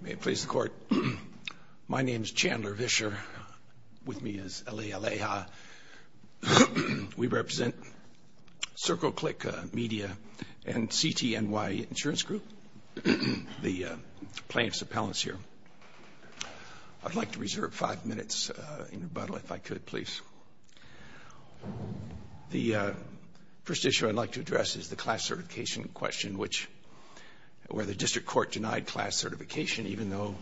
May it please the Court. My name is Chandler Vischer. With me is Elie Aleha. We represent Circle Click Media and CTNY Insurance Group, the plaintiffs' appellants here. I'd like to reserve five minutes in rebuttal if I could, please. The first issue I'd like to address is the class certification question, which where the district court denied class certification, even though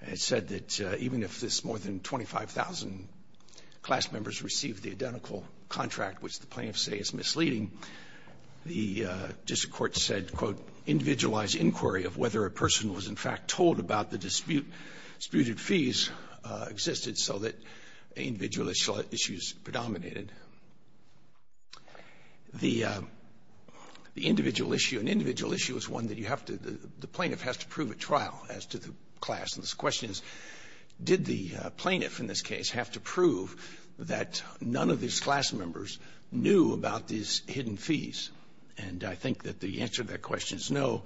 it said that even if more than 25,000 class members received the identical contract, which the plaintiffs say is misleading, the district court said, quote, individualized inquiry of whether a person was in fact told about the disputed fees existed so that individual issues predominated. And the individual issue, an individual issue is one that you have to, the plaintiff has to prove at trial as to the class. And this question is, did the plaintiff in this case have to prove that none of these class members knew about these hidden fees? And I think that the answer to that question is no.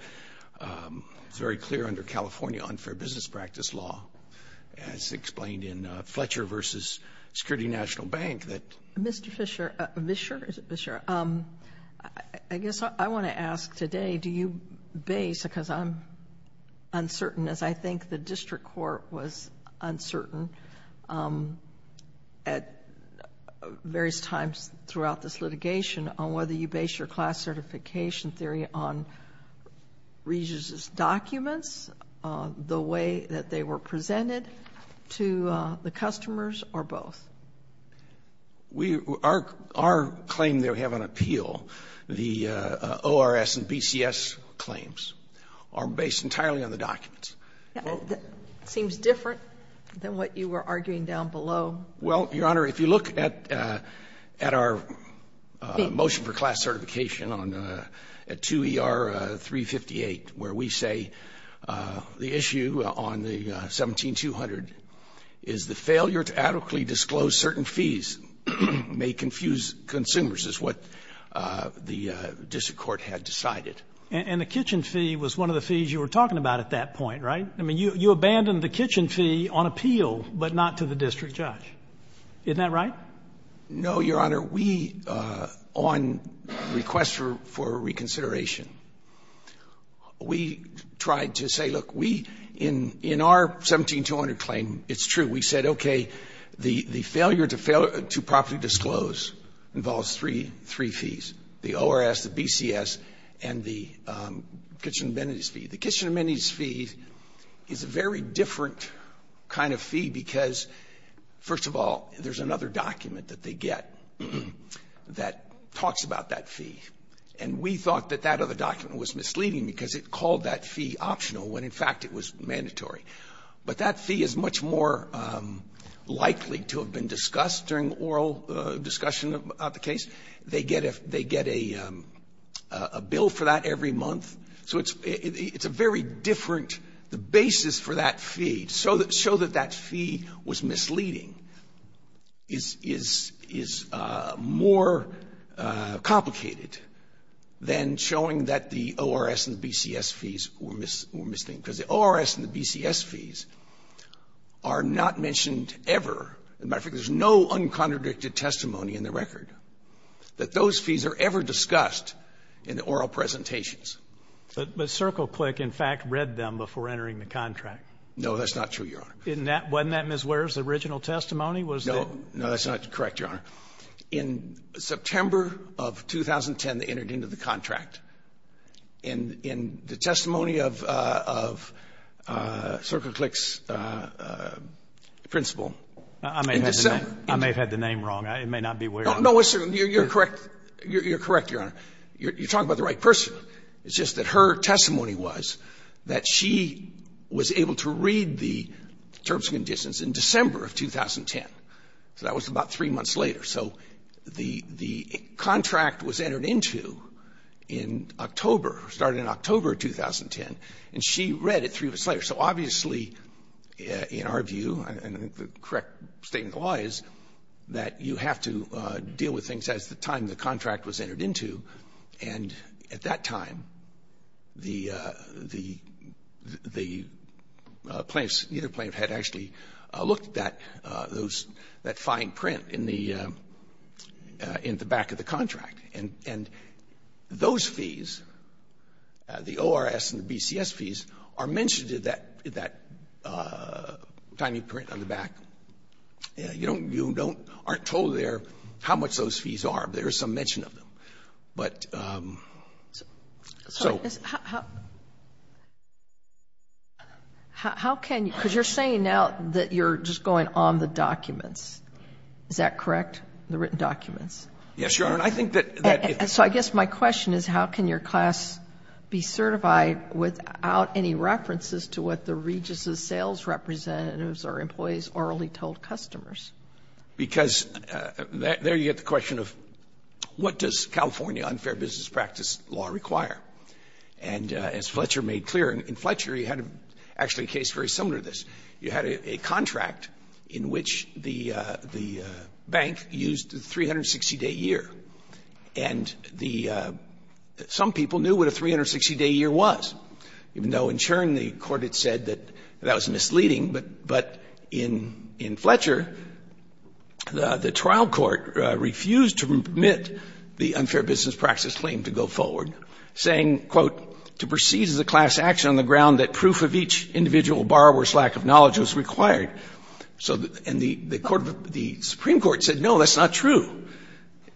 It's very clear under California unfair business practice law, as explained in Fletcher v. Security National Bank that the class certification theory exists. So, Mr. Fischer, Vischer, is it Vischer? I guess I want to ask today, do you base, because I'm uncertain, as I think the district court was uncertain, at various times throughout this litigation on whether you base your class certification theory on Regis's documents, the way that they were presented to the customers, or both? Our claim that we have on appeal, the ORS and BCS claims, are based entirely on the documents. It seems different than what you were arguing down below. Well, Your Honor, if you look at our motion for class certification on 2 ER 358, where we say the issue on the 17-200 is the failure to adequately disclose certain fees may confuse consumers, is what the district court had decided. And the kitchen fee was one of the fees you were talking about at that point, right? I mean, you abandoned the kitchen fee on appeal, but not to the district judge. Isn't that right? No, Your Honor. We, on request for reconsideration, we tried to say, look, we, in our 17-200 claim, it's true. We said, okay, the failure to properly disclose involves three fees, the ORS, the BCS, and the kitchen amenities fee. The kitchen amenities fee is a very different kind of fee because, first of all, there's another document that they get that talks about that fee. And we thought that that other document was misleading because it called that fee optional when, in fact, it was mandatory. But that fee is much more likely to have been discussed during oral discussion about the case. They get a bill for that every month. So it's a very different basis for that fee, to show that that fee was misleading is more complicated than showing that the ORS and the BCS fees were misleading because the ORS and the BCS fees are not mentioned ever. As a matter of fact, there's no uncontradicted testimony in the record that those fees are ever discussed in the oral presentations. But CircleClick, in fact, read them before entering the contract. That's not true, Your Honor. Wasn't that Ms. Ware's original testimony? No. No, that's not correct, Your Honor. In September of 2010, they entered into the contract. And in the testimony of CircleClick's principal, in December of 2010... I may have had the name wrong. It may not be Ware. No, you're correct. You're correct, Your Honor. You're talking about the right person. It's just that her testimony was that she was able to read the terms and conditions in December of 2010. So that was about three months later. So the contract was entered into in October, started in October of 2010, and she read it three months later. So obviously, in our view, and I think the correct statement of the law is that you have to deal with things as the time the contract was entered into. And at that time, the plaintiffs, neither plaintiff had actually looked at those, that fine print in the back of the contract. And those fees, the ORS and the BCS fees, are mentioned in that tiny print on the back. You aren't told there how much those fees are, but there is some mention of them. But... So... How can you... Because you're saying now that you're just going on the documents. Is that correct? The written documents? Yes, Your Honor. I think that... So I guess my question is how can your class be certified without any references to what the Regis's sales representatives or employees orally told customers? Because there you get the question of what does California unfair business practice law require. And as Fletcher made clear, and in Fletcher you had actually a case very similar to this, you had a contract in which the bank used the 360-day year. And the some people knew what a 360-day year was, even though in Chern the Court had said that that was misleading. But in Fletcher, the trial court refused to permit the unfair business practice claim to go forward, saying, quote, to proceed as a class action on the ground that proof of each individual borrower's lack of knowledge was required. And the Supreme Court said, no, that's not true.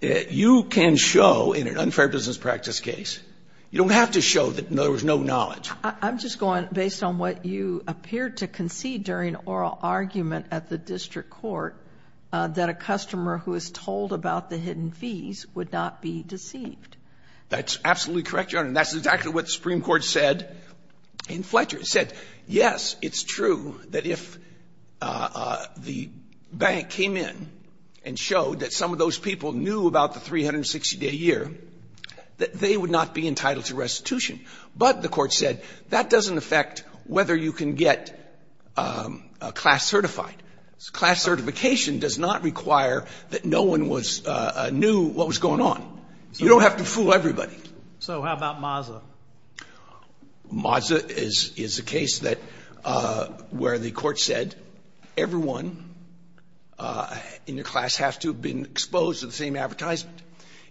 You can show in an unfair business practice case, you don't have to show that there was no knowledge. I'm just going, based on what you appeared to concede during oral argument at the district court, that a customer who is told about the hidden fees would not be deceived. That's absolutely correct, Your Honor, and that's exactly what the Supreme Court said in Fletcher. It said, yes, it's true that if the bank came in and showed that some of those people knew about the 360-day year, that they would not be entitled to restitution. But the Court said, that doesn't affect whether you can get class certified. Class certification does not require that no one was new what was going on. You don't have to fool everybody. So how about MAZA? MAZA is a case that where the Court said everyone in your class has to have been exposed to the same advertisement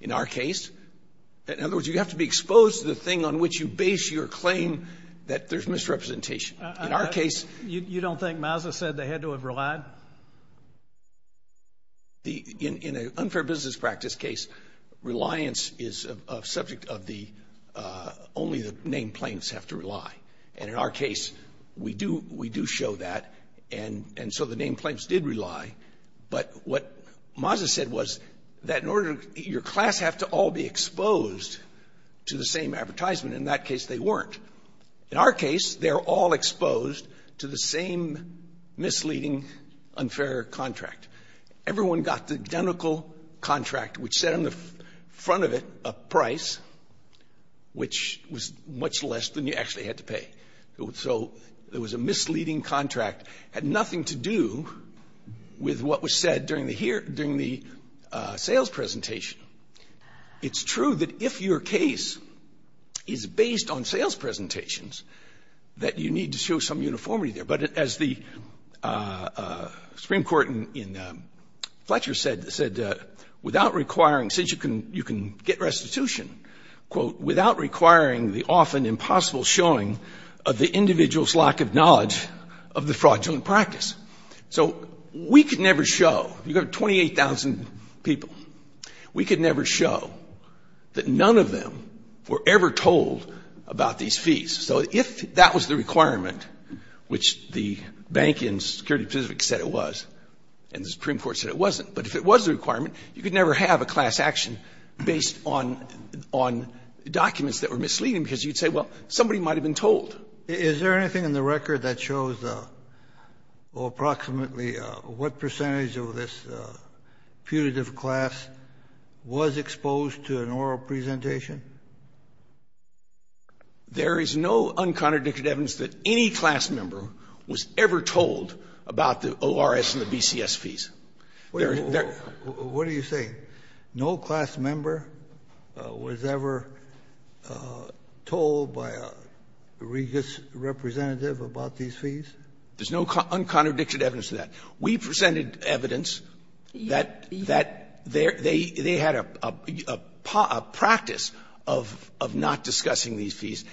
in our case. In other words, you have to be exposed to the thing on which you base your claim that there's misrepresentation. In our case— You don't think MAZA said they had to have relied? In an unfair business practice case, reliance is a subject of the—only the named plaintiffs have to rely. And in our case, we do show that, and so the named plaintiffs did rely. But what MAZA said was that in order to—your class have to all be exposed to the same advertisement. In that case, they weren't. In our case, they're all exposed to the same misleading, unfair contract. Everyone got the identical contract, which said on the front of it a price, which was much less than you actually had to pay. So it was a misleading contract. It had nothing to do with what was said during the sales presentation. It's true that if your case is based on sales presentations, that you need to show some uniformity there. But as the Supreme Court in Fletcher said, without requiring—since you can get restitution, quote, without requiring the often impossible showing of the individual's lack of knowledge of the fraudulent practice. So we could never show—you have 28,000 people. We could never show that none of them were ever told about these fees. So if that was the requirement, which the bank and security specific said it was, and the Supreme Court said it wasn't, but if it was the requirement, you could never have a class action based on documents that were misleading, because you'd say, well, somebody might have been told. Kennedy, is there anything in the record that shows approximately what percentage of this putative class was exposed to an oral presentation? There is no uncontradicted evidence that any class member was ever told about the ORS and the BCS fees. There is no— Kennedy, what are you saying? No class member was ever told by a regis representative about these fees? There's no uncontradicted evidence to that. We presented evidence that they had a practice of not discussing these fees.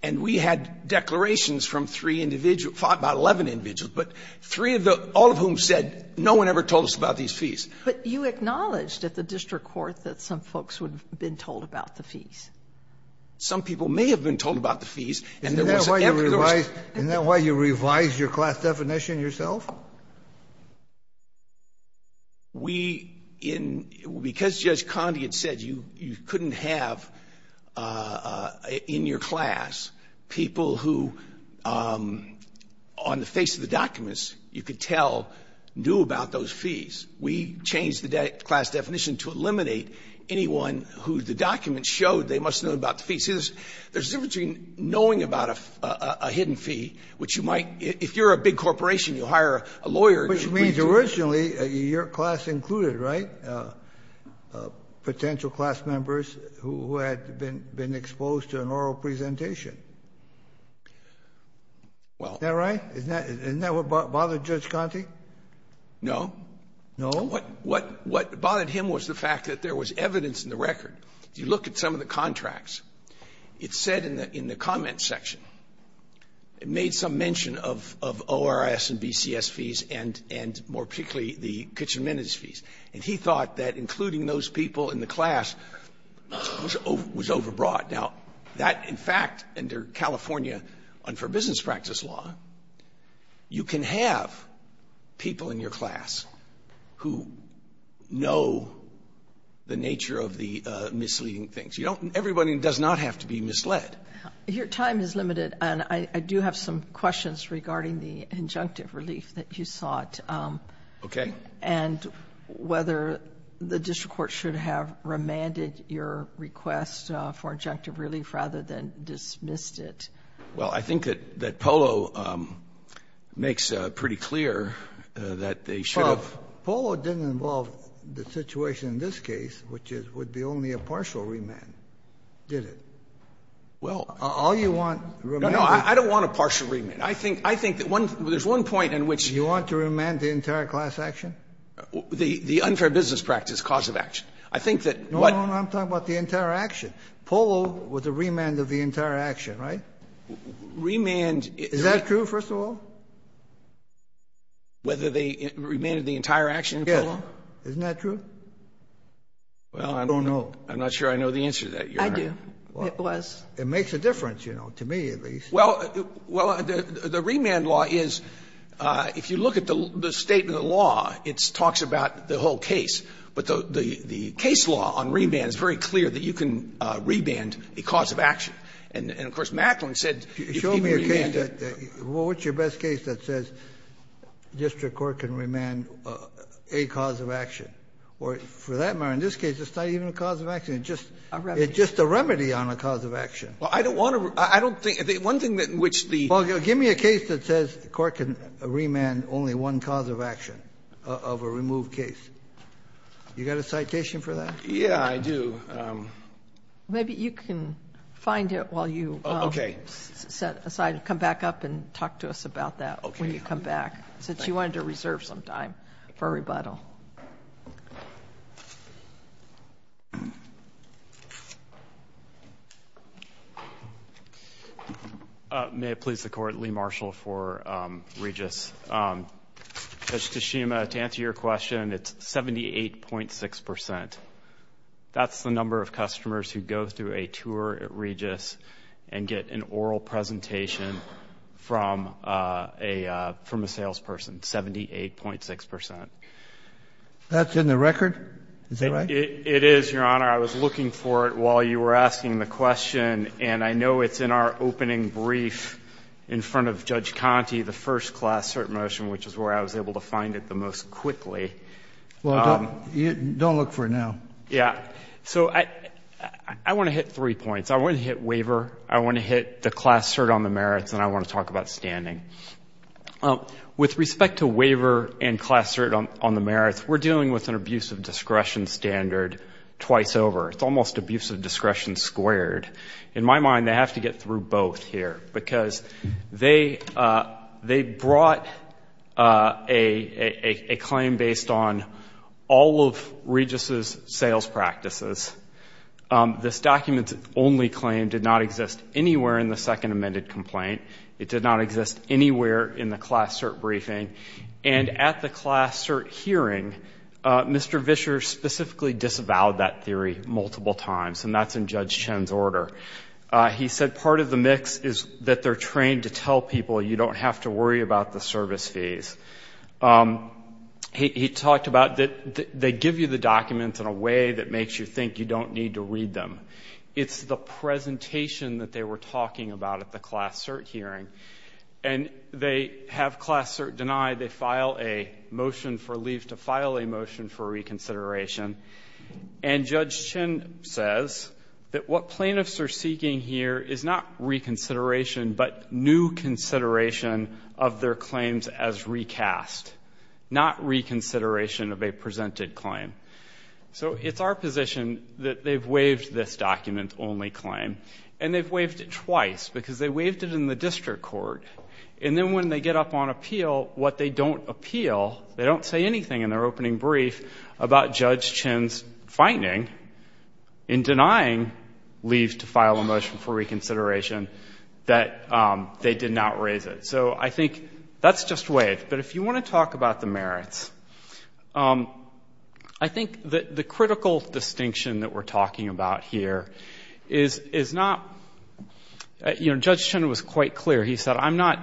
And we had declarations from three individuals, about 11 individuals, but three of the — all of whom said, no one ever told us about these fees. But you acknowledged at the district court that some folks would have been told about the fees. Some people may have been told about the fees, and there wasn't ever— Isn't that why you revised your class definition yourself? We — because Judge Condi had said you couldn't have in your class people who, on the face of the documents, you could tell, knew about those fees. We changed the class definition to eliminate anyone who the documents showed they must have known about the fees. See, there's a difference between knowing about a hidden fee, which you might — if you're a big corporation, you hire a lawyer to— Which means originally, your class included, right, potential class members who had been exposed to an oral presentation? Well— Isn't that right? Isn't that what bothered Judge Condi? No. No? What bothered him was the fact that there was evidence in the record. If you look at some of the contracts, it said in the comments section, it made some mention of ORS and BCS fees and more particularly the kitchen minutes fees. And he thought that including those people in the class was overbought. Now, that, in fact, under California unfair business practice law, you can have people in your class who know the nature of the misleading things. You don't — everybody does not have to be misled. Your time is limited, and I do have some questions regarding the injunctive relief that you sought. Okay. And whether the district court should have remanded your request for injunctive relief rather than dismissed it. Well, I think that — that Polo makes pretty clear that they should have— Well, Polo didn't involve the situation in this case, which would be only a partial remand, did it? Well— All you want, remand— No, no, I don't want a partial remand. I think — I think that one — there's one point in which— Do you want to remand the entire class action? The unfair business practice cause of action. I think that what— No, no, no, I'm talking about the entire action. Polo was a remand of the entire action, right? Remand is— Is that true, first of all? Whether they remanded the entire action in Polo? Yes. Isn't that true? Well, I'm— I don't know. I'm not sure I know the answer to that, Your Honor. I do. It was. It makes a difference, you know, to me, at least. Well, the remand law is, if you look at the statement of the law, it talks about the whole case. But the case law on remand is very clear that you can remand a cause of action. And, of course, Macklin said— Show me a case that — what's your best case that says district court can remand a cause of action? Or for that matter, in this case, it's not even a cause of action, it's just— A remedy. It's just a remedy on a cause of action. Well, I don't want to — I don't think — one thing that in which the— Well, give me a case that says the court can remand only one cause of action of a removed case. You got a citation for that? Yeah, I do. Maybe you can find it while you set aside — come back up and talk to us about that when you come back, since you wanted to reserve some time for rebuttal. May it please the Court, Lee Marshall for Regis. Judge Tashima, to answer your question, it's 78.6 percent. That's the number of customers who go through a tour at Regis and get an oral presentation from a salesperson, 78.6 percent. That's in the record? Is that right? It is, Your Honor. I was looking for it while you were asking the question, and I know it's in our opening brief in front of Judge Conte, the first class cert motion, which is where I was able to find it the most quickly. Well, don't look for it now. Yeah. So I want to hit three points. I want to hit waiver. I want to hit the class cert on the merits, and I want to talk about standing. With respect to waiver and class cert on the merits, we're dealing with an abuse of discretion standard twice over. It's almost abuse of discretion squared. In my mind, they have to get through both here, because they brought a claim based on all of Regis' sales practices. This document's only claim did not exist anywhere in the second amended complaint. It did not exist anywhere in the class cert briefing, and at the class cert hearing, Mr. Vischer specifically disavowed that theory multiple times, and that's in Judge Chen's order. He said part of the mix is that they're trained to tell people you don't have to worry about the service fees. He talked about that they give you the documents in a way that makes you think you don't need to read them. It's the presentation that they were talking about at the class cert hearing, and they have class cert denied. They file a motion for leave to file a motion for reconsideration, and Judge Chen says that what plaintiffs are seeking here is not reconsideration, but new consideration of their claims as recast, not reconsideration of a presented claim. So it's our position that they've waived this document-only claim, and they've waived it twice, because they waived it in the district court, and then when they get up on appeal, what they don't appeal, they don't say anything in their opening brief about Judge Chen's finding in denying leave to file a motion for reconsideration that they did not raise it. So I think that's just waived, but if you want to talk about the merits. I think that the critical distinction that we're talking about here is not, you know, Judge Chen was quite clear. He said, I'm not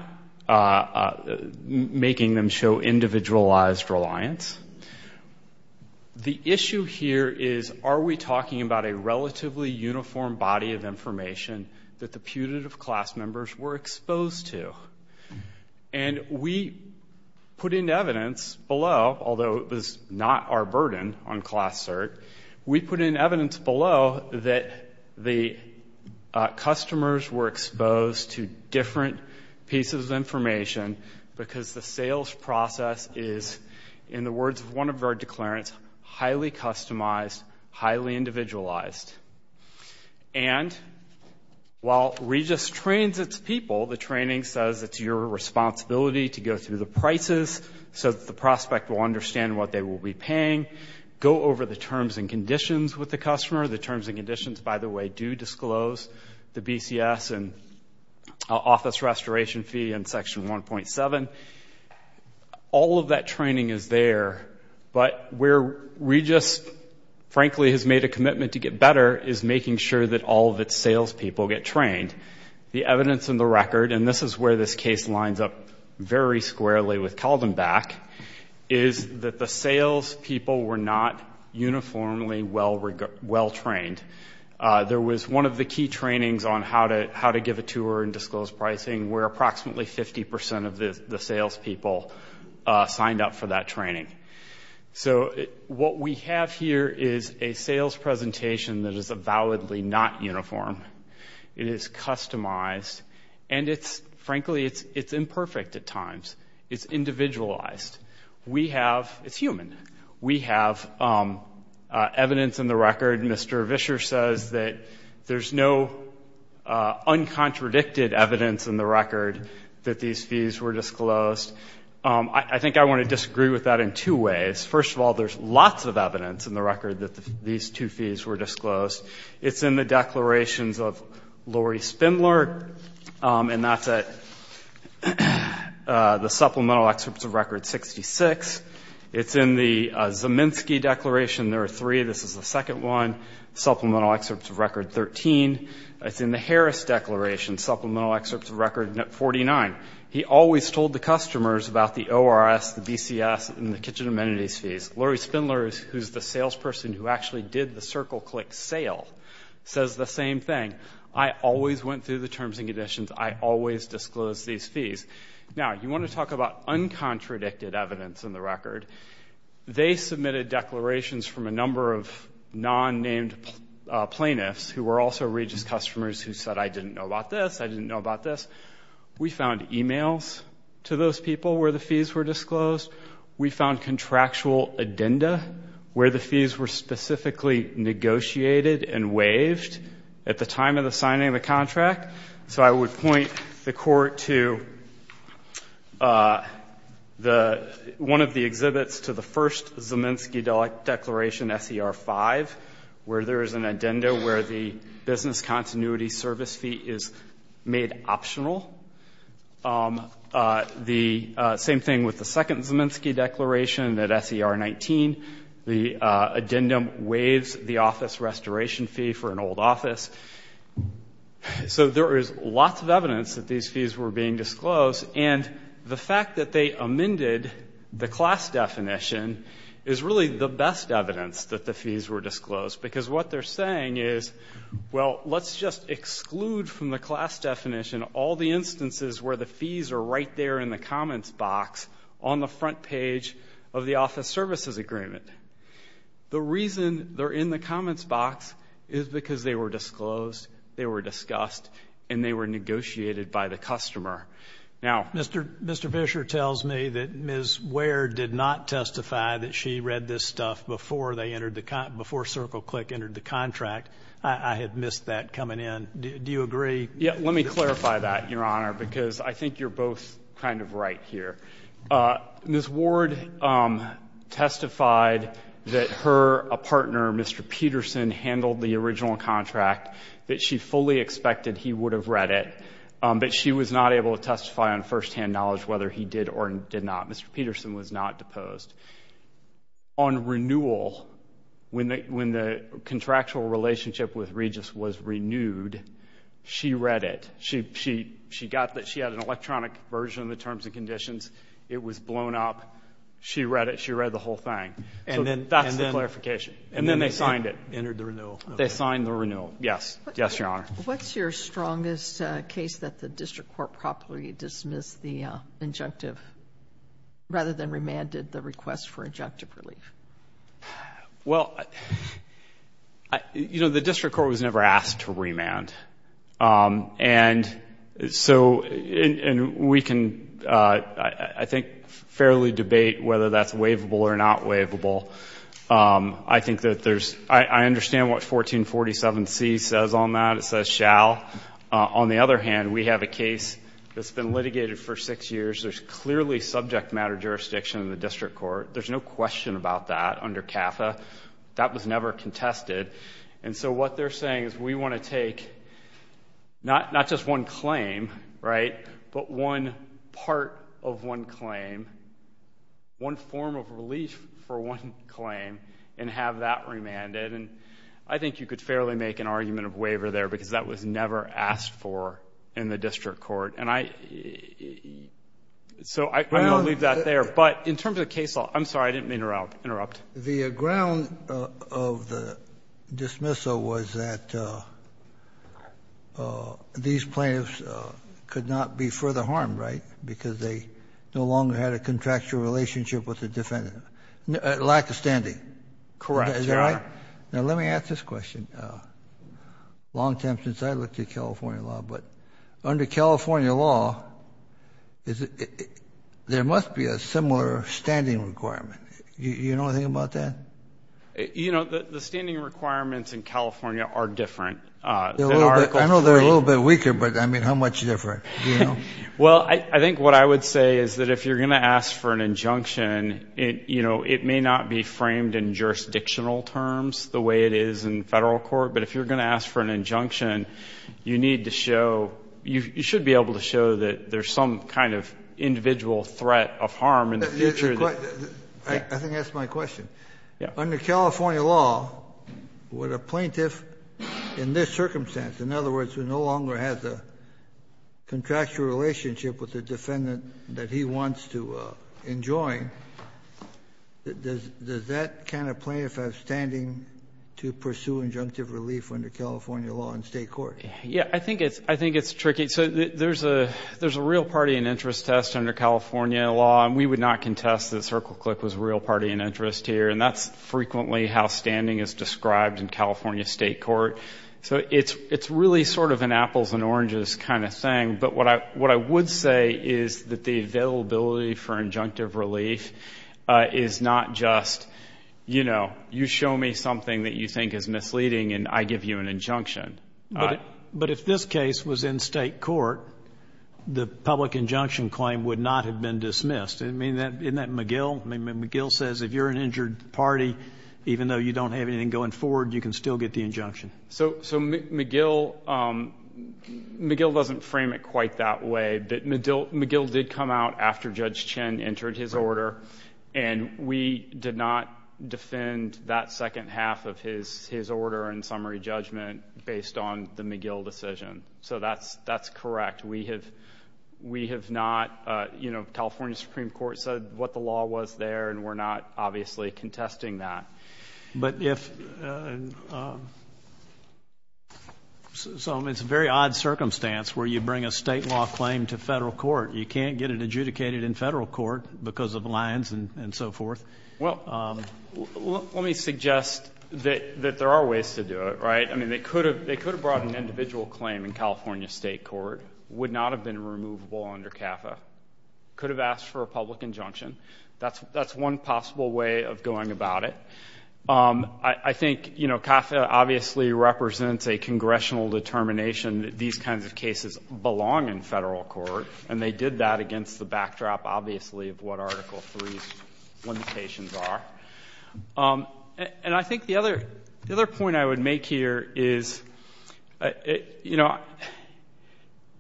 making them show individualized reliance. The issue here is are we talking about a relatively uniform body of information that the putative class members were exposed to? And we put in evidence below, although it was not our burden on Class Cert, we put in evidence below that the customers were exposed to different pieces of information because the sales process is, in the words of one of our declarants, highly customized, highly individualized. And while REGIS trains its people, the training says it's your responsibility to go through the prices so that the prospect will understand what they will be paying, go over the terms and conditions with the customer. The terms and conditions, by the way, do disclose the BCS and office restoration fee and Section 1.7. All of that training is there, but where REGIS, frankly, has made a commitment to get better is making sure that all of its salespeople get trained. The evidence in the record, and this is where this case lines up very squarely with Caldenback, is that the salespeople were not uniformly well-trained. There was one of the key trainings on how to give a tour and disclose pricing where approximately 50% of the salespeople signed up for that training. So what we have here is a sales presentation that is validly not uniform. It is customized, and it's, frankly, it's imperfect at times. It's individualized. We have, it's human, we have evidence in the record, Mr. Vischer says that there's no uncontradicted evidence in the record that these fees were disclosed. I think I want to disagree with that in two ways. First of all, there's lots of evidence in the record that these two fees were disclosed. It's in the declarations of Lori Spindler, and that's at the Supplemental Excerpts of Record 66. It's in the Zaminski Declaration, there are three. This is the second one, Supplemental Excerpts of Record 13. It's in the Harris Declaration, Supplemental Excerpts of Record 49. He always told the customers about the ORS, the BCS, and the kitchen amenities fees. Lori Spindler, who's the salesperson who actually did the circle-click sale, says the same thing. I always went through the terms and conditions. I always disclosed these fees. Now, you want to talk about uncontradicted evidence in the record. They submitted declarations from a number of non-named plaintiffs, who were also Regis customers who said, I didn't know about this, I didn't know about this. We found emails to those people where the fees were disclosed. We found contractual addenda where the fees were specifically negotiated and waived at the time of the signing of the contract. So I would point the court to one of the exhibits to the first Zaminski Declaration, SER 5, where there is an addenda where the business continuity service fee is made optional. The same thing with the second Zaminski Declaration at SER 19, the addendum waives the office restoration fee for an old office. So there is lots of evidence that these fees were being disclosed, and the fact that they amended the class definition is really the best evidence that the fees were disclosed. Because what they're saying is, well, let's just exclude from the class definition all the instances where the fees are right there in the comments box on the front page of the office services agreement. The reason they're in the comments box is because they were disclosed, they were discussed, and they were negotiated by the customer. Now, Mr. Fisher tells me that Ms. Ware did not testify that she read this stuff before CircleClick entered the contract. I had missed that coming in. Do you agree? Yeah, let me clarify that, Your Honor, because I think you're both kind of right here. Ms. Ward testified that her partner, Mr. Peterson, handled the original contract, that she fully expected he would have read it, but she was not able to testify on firsthand knowledge whether he did or did not. Mr. Peterson was not deposed. On renewal, when the contractual relationship with Regis was renewed, she read it. She got that she had an electronic version of the terms and conditions. It was blown up. She read it. She read the whole thing. That's the clarification. And then they signed it. Entered the renewal. They signed the renewal. Yes. Yes, Your Honor. What's your strongest case that the district court properly dismissed the injunctive rather than remanded the request for injunctive relief? Well, you know, the district court was never asked to remand, and so we can, I think, fairly debate whether that's waivable or not waivable. I think that there's... I understand what 1447C says on that. It says shall. On the other hand, we have a case that's been litigated for six years. There's clearly subject matter jurisdiction in the district court. There's no question about that under CAFA. That was never contested. And so what they're saying is we want to take not just one claim, right, but one part of one claim, one form of relief for one claim, and have that remanded. And I think you could fairly make an argument of waiver there because that was never asked for in the district court. And I... So I'm going to leave that there. But in terms of the case law, I'm sorry, I didn't mean to interrupt. The ground of the dismissal was that these plaintiffs could not be further harmed, right, because they no longer had a contractual relationship with the defendant. Lack of standing. Correct, Your Honor. Is that right? Now, let me ask this question, long time since I looked at California law, but under California law, there must be a similar standing requirement. You know anything about that? You know, the standing requirements in California are different. I know they're a little bit weaker, but, I mean, how much different, do you know? Well, I think what I would say is that if you're going to ask for an injunction, you know, it may not be framed in jurisdictional terms the way it is in federal court, but if you're going to ask for an injunction, you need to show, you should be able to show that there's some kind of individual threat of harm in the future that... I think that's my question. Under California law, would a plaintiff in this circumstance, in other words, who no longer has a contractual relationship with the defendant that he wants to enjoin, does that kind of plaintiff have standing to pursue injunctive relief under California law in state court? Yeah. I think it's tricky. So there's a real party and interest test under California law, and we would not contest that CircleClick was a real party and interest here, and that's frequently how standing is described in California state court. So it's really sort of an apples and oranges kind of thing, but what I would say is that the availability for injunctive relief is not just, you know, you show me something that you think is misleading, and I give you an injunction. But if this case was in state court, the public injunction claim would not have been dismissed. I mean, isn't that McGill? McGill says if you're an injured party, even though you don't have anything going forward, you can still get the injunction. So, McGill doesn't frame it quite that way, but McGill did come out after Judge Chen entered his order, and we did not defend that second half of his order and summary judgment based on the McGill decision. So that's correct. We have not, you know, California Supreme Court said what the law was there, and we're not obviously contesting that. But if so, I mean, it's a very odd circumstance where you bring a state law claim to Federal Court. You can't get it adjudicated in Federal Court because of lines and so forth. Well, let me suggest that there are ways to do it, right? I mean, they could have brought an individual claim in California state court, would not have been removable under CAFA, could have asked for a public injunction. That's one possible way of going about it. I think, you know, CAFA obviously represents a congressional determination that these kinds of cases belong in Federal Court, and they did that against the backdrop, obviously, of what Article III's limitations are. And I think the other point I would make here is, you know,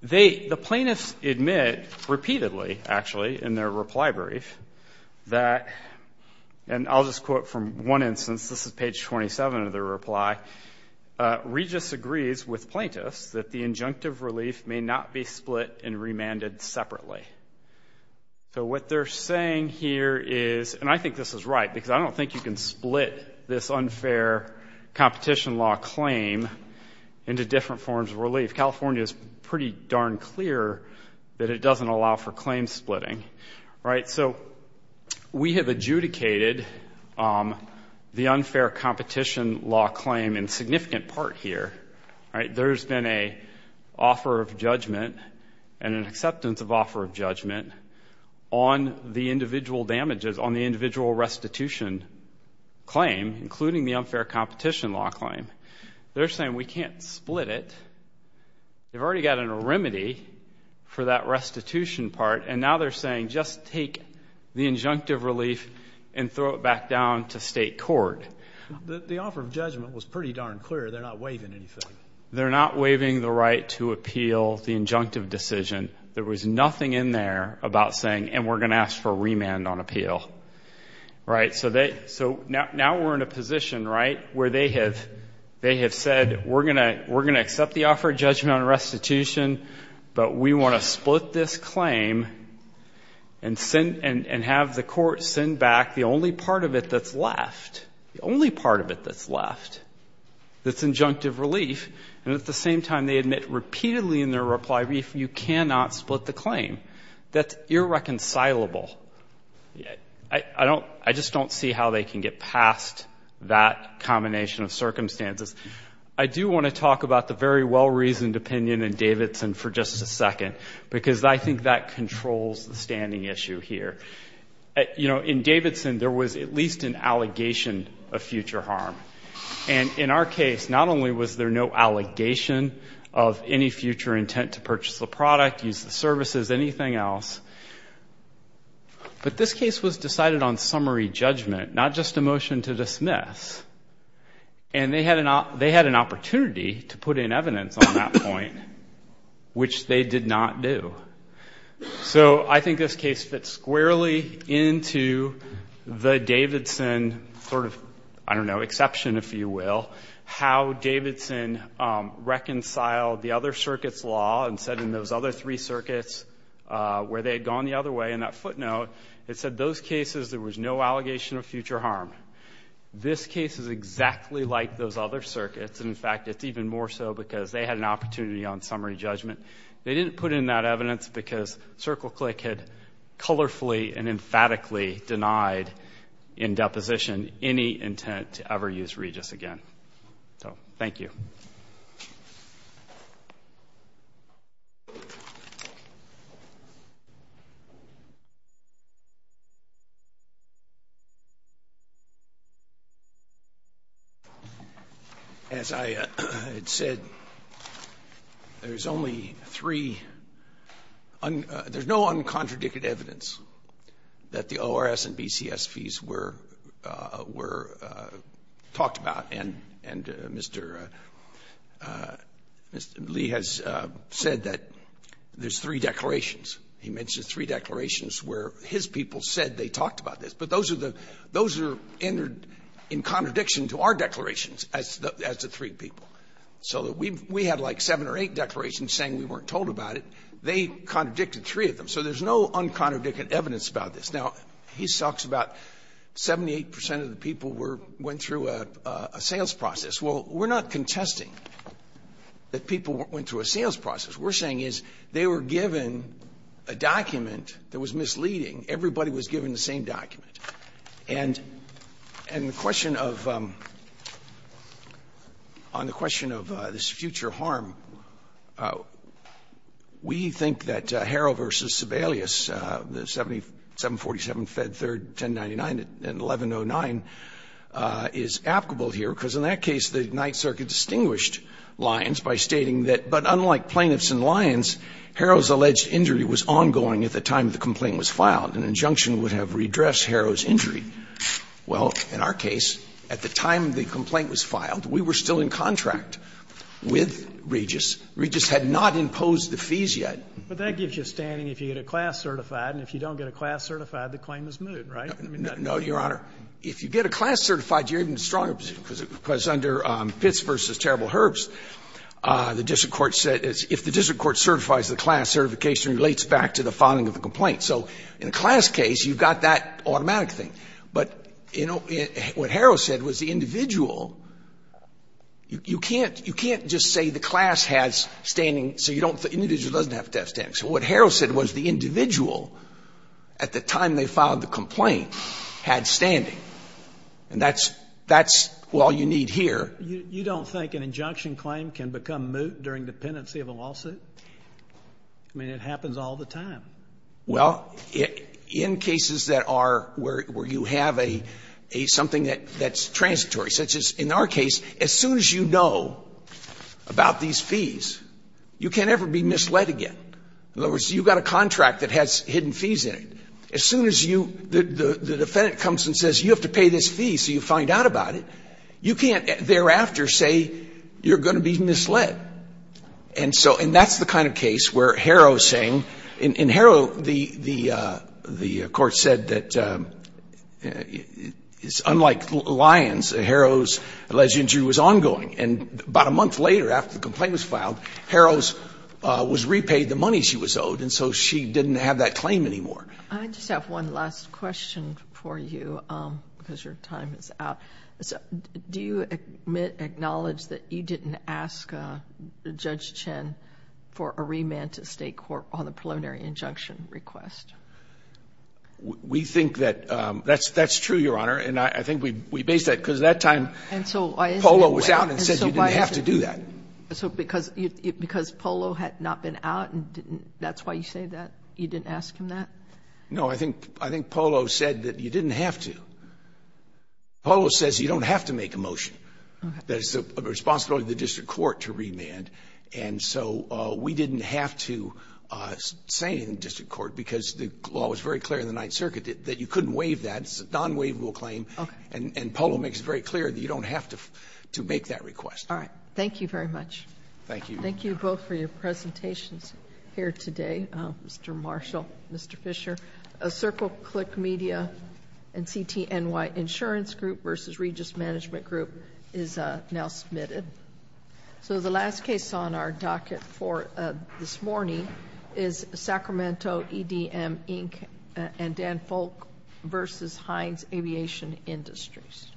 they, the plaintiffs admit repeatedly, actually, in their reply brief, that, and I'll just quote from one instance, this is page 27 of their reply, Regis agrees with plaintiffs that the injunctive relief may not be split and remanded separately. So what they're saying here is, and I think this is right, because I don't think you can split this unfair competition law claim into different forms of relief. California is pretty darn clear that it doesn't allow for claim splitting, right? So we have adjudicated the unfair competition law claim in significant part here, right? There's been an offer of judgment and an acceptance of offer of judgment on the individual damages, on the individual restitution claim, including the unfair competition law claim. They're saying, we can't split it. They've already got a remedy for that restitution part, and now they're saying, just take the injunctive relief and throw it back down to state court. The offer of judgment was pretty darn clear, they're not waiving anything. They're not waiving the right to appeal the injunctive decision. There was nothing in there about saying, and we're going to ask for remand on appeal, right? So now we're in a position, right, where they have said, we're going to accept the offer of judgment on restitution, but we want to split this claim and have the court send back the only part of it that's left, the only part of it that's left, that's injunctive relief. And at the same time, they admit repeatedly in their reply, you cannot split the claim. That's irreconcilable. I just don't see how they can get past that combination of circumstances. I do want to talk about the very well-reasoned opinion in Davidson for just a second, because I think that controls the standing issue here. You know, in Davidson, there was at least an allegation of future harm. And in our case, not only was there no allegation of any future intent to purchase the product, use the services, anything else, but this case was decided on summary judgment, not just a motion to dismiss. And they had an opportunity to put in evidence on that point, which they did not do. So I think this case fits squarely into the Davidson sort of, I don't know, exception, if you will, how Davidson reconciled the other circuits' law and said in those other three circuits where they had gone the other way, in that footnote, it said those cases, there was no allegation of future harm. This case is exactly like those other circuits, and in fact, it's even more so because they had an opportunity on summary judgment. They didn't put in that evidence because CircleClick had colorfully and emphatically denied in that case. Thank you. As I had said, there's only three, there's no uncontradicted evidence that the ORS and Mr. Lee has said that there's three declarations. He mentions three declarations where his people said they talked about this. But those are the, those are in contradiction to our declarations as the three people. So we had like seven or eight declarations saying we weren't told about it. They contradicted three of them. So there's no uncontradicted evidence about this. Now, he talks about 78 percent of the people were, went through a sales process. Well, we're not contesting that people went through a sales process. What we're saying is they were given a document that was misleading. Everybody was given the same document. And the question of, on the question of this future harm, we think that Harrell v. Sebelius, 747 Fed 3, 1099 and 1109 is applicable here, because in that case, the Ninth Circuit distinguished Lyons by stating that, but unlike Plaintiffs and Lyons, Harrell's alleged injury was ongoing at the time the complaint was filed. An injunction would have redressed Harrell's injury. Well, in our case, at the time the complaint was filed, we were still in contract with Regis. Regis had not imposed the fees yet. But that gives you standing if you get a class certified, and if you don't get a class certified, the claim is moot, right? No, Your Honor. If you get a class certified, you're in a stronger position, because under Pitts v. Terrible Herbs, the district court said if the district court certifies the class, certification relates back to the filing of the complaint. So in a class case, you've got that automatic thing. But, you know, what Harrell said was the individual, you can't just say the class has standing, so you don't the individual doesn't have to have standing. So what Harrell said was the individual, at the time they filed the complaint, had standing. And that's all you need here. You don't think an injunction claim can become moot during dependency of a lawsuit? I mean, it happens all the time. Well, in cases that are where you have a something that's transitory, such as in our case, if you know about these fees, you can't ever be misled again. In other words, you've got a contract that has hidden fees in it. As soon as you the defendant comes and says you have to pay this fee so you find out about it, you can't thereafter say you're going to be misled. And so and that's the kind of case where Harrell is saying, in Harrell, the court said that it's unlike Lyons, Harrell's alleged injury was ongoing. And about a month later, after the complaint was filed, Harrell was repaid the money she was owed, and so she didn't have that claim anymore. I just have one last question for you, because your time is out. Do you admit, acknowledge that you didn't ask Judge Chen for a remand to state court on the preliminary injunction request? We think that that's true, Your Honor. And I think we base that because at that time, Polo was out and said you didn't have to do that. And so because Polo had not been out and that's why you say that, you didn't ask him that? No, I think Polo said that you didn't have to. Polo says you don't have to make a motion, that it's the responsibility of the district court to remand. And so we didn't have to say in the district court, because the law was very clear in the initial claim. And Polo makes it very clear that you don't have to make that request. Thank you very much. Thank you. Thank you both for your presentations here today, Mr. Marshall, Mr. Fisher. A Circle Click Media and CTNY Insurance Group versus Regis Management Group is now submitted. So the last case on our docket for this morning is Sacramento EDM Inc. and Dan Folk versus Heinz Aviation Industries.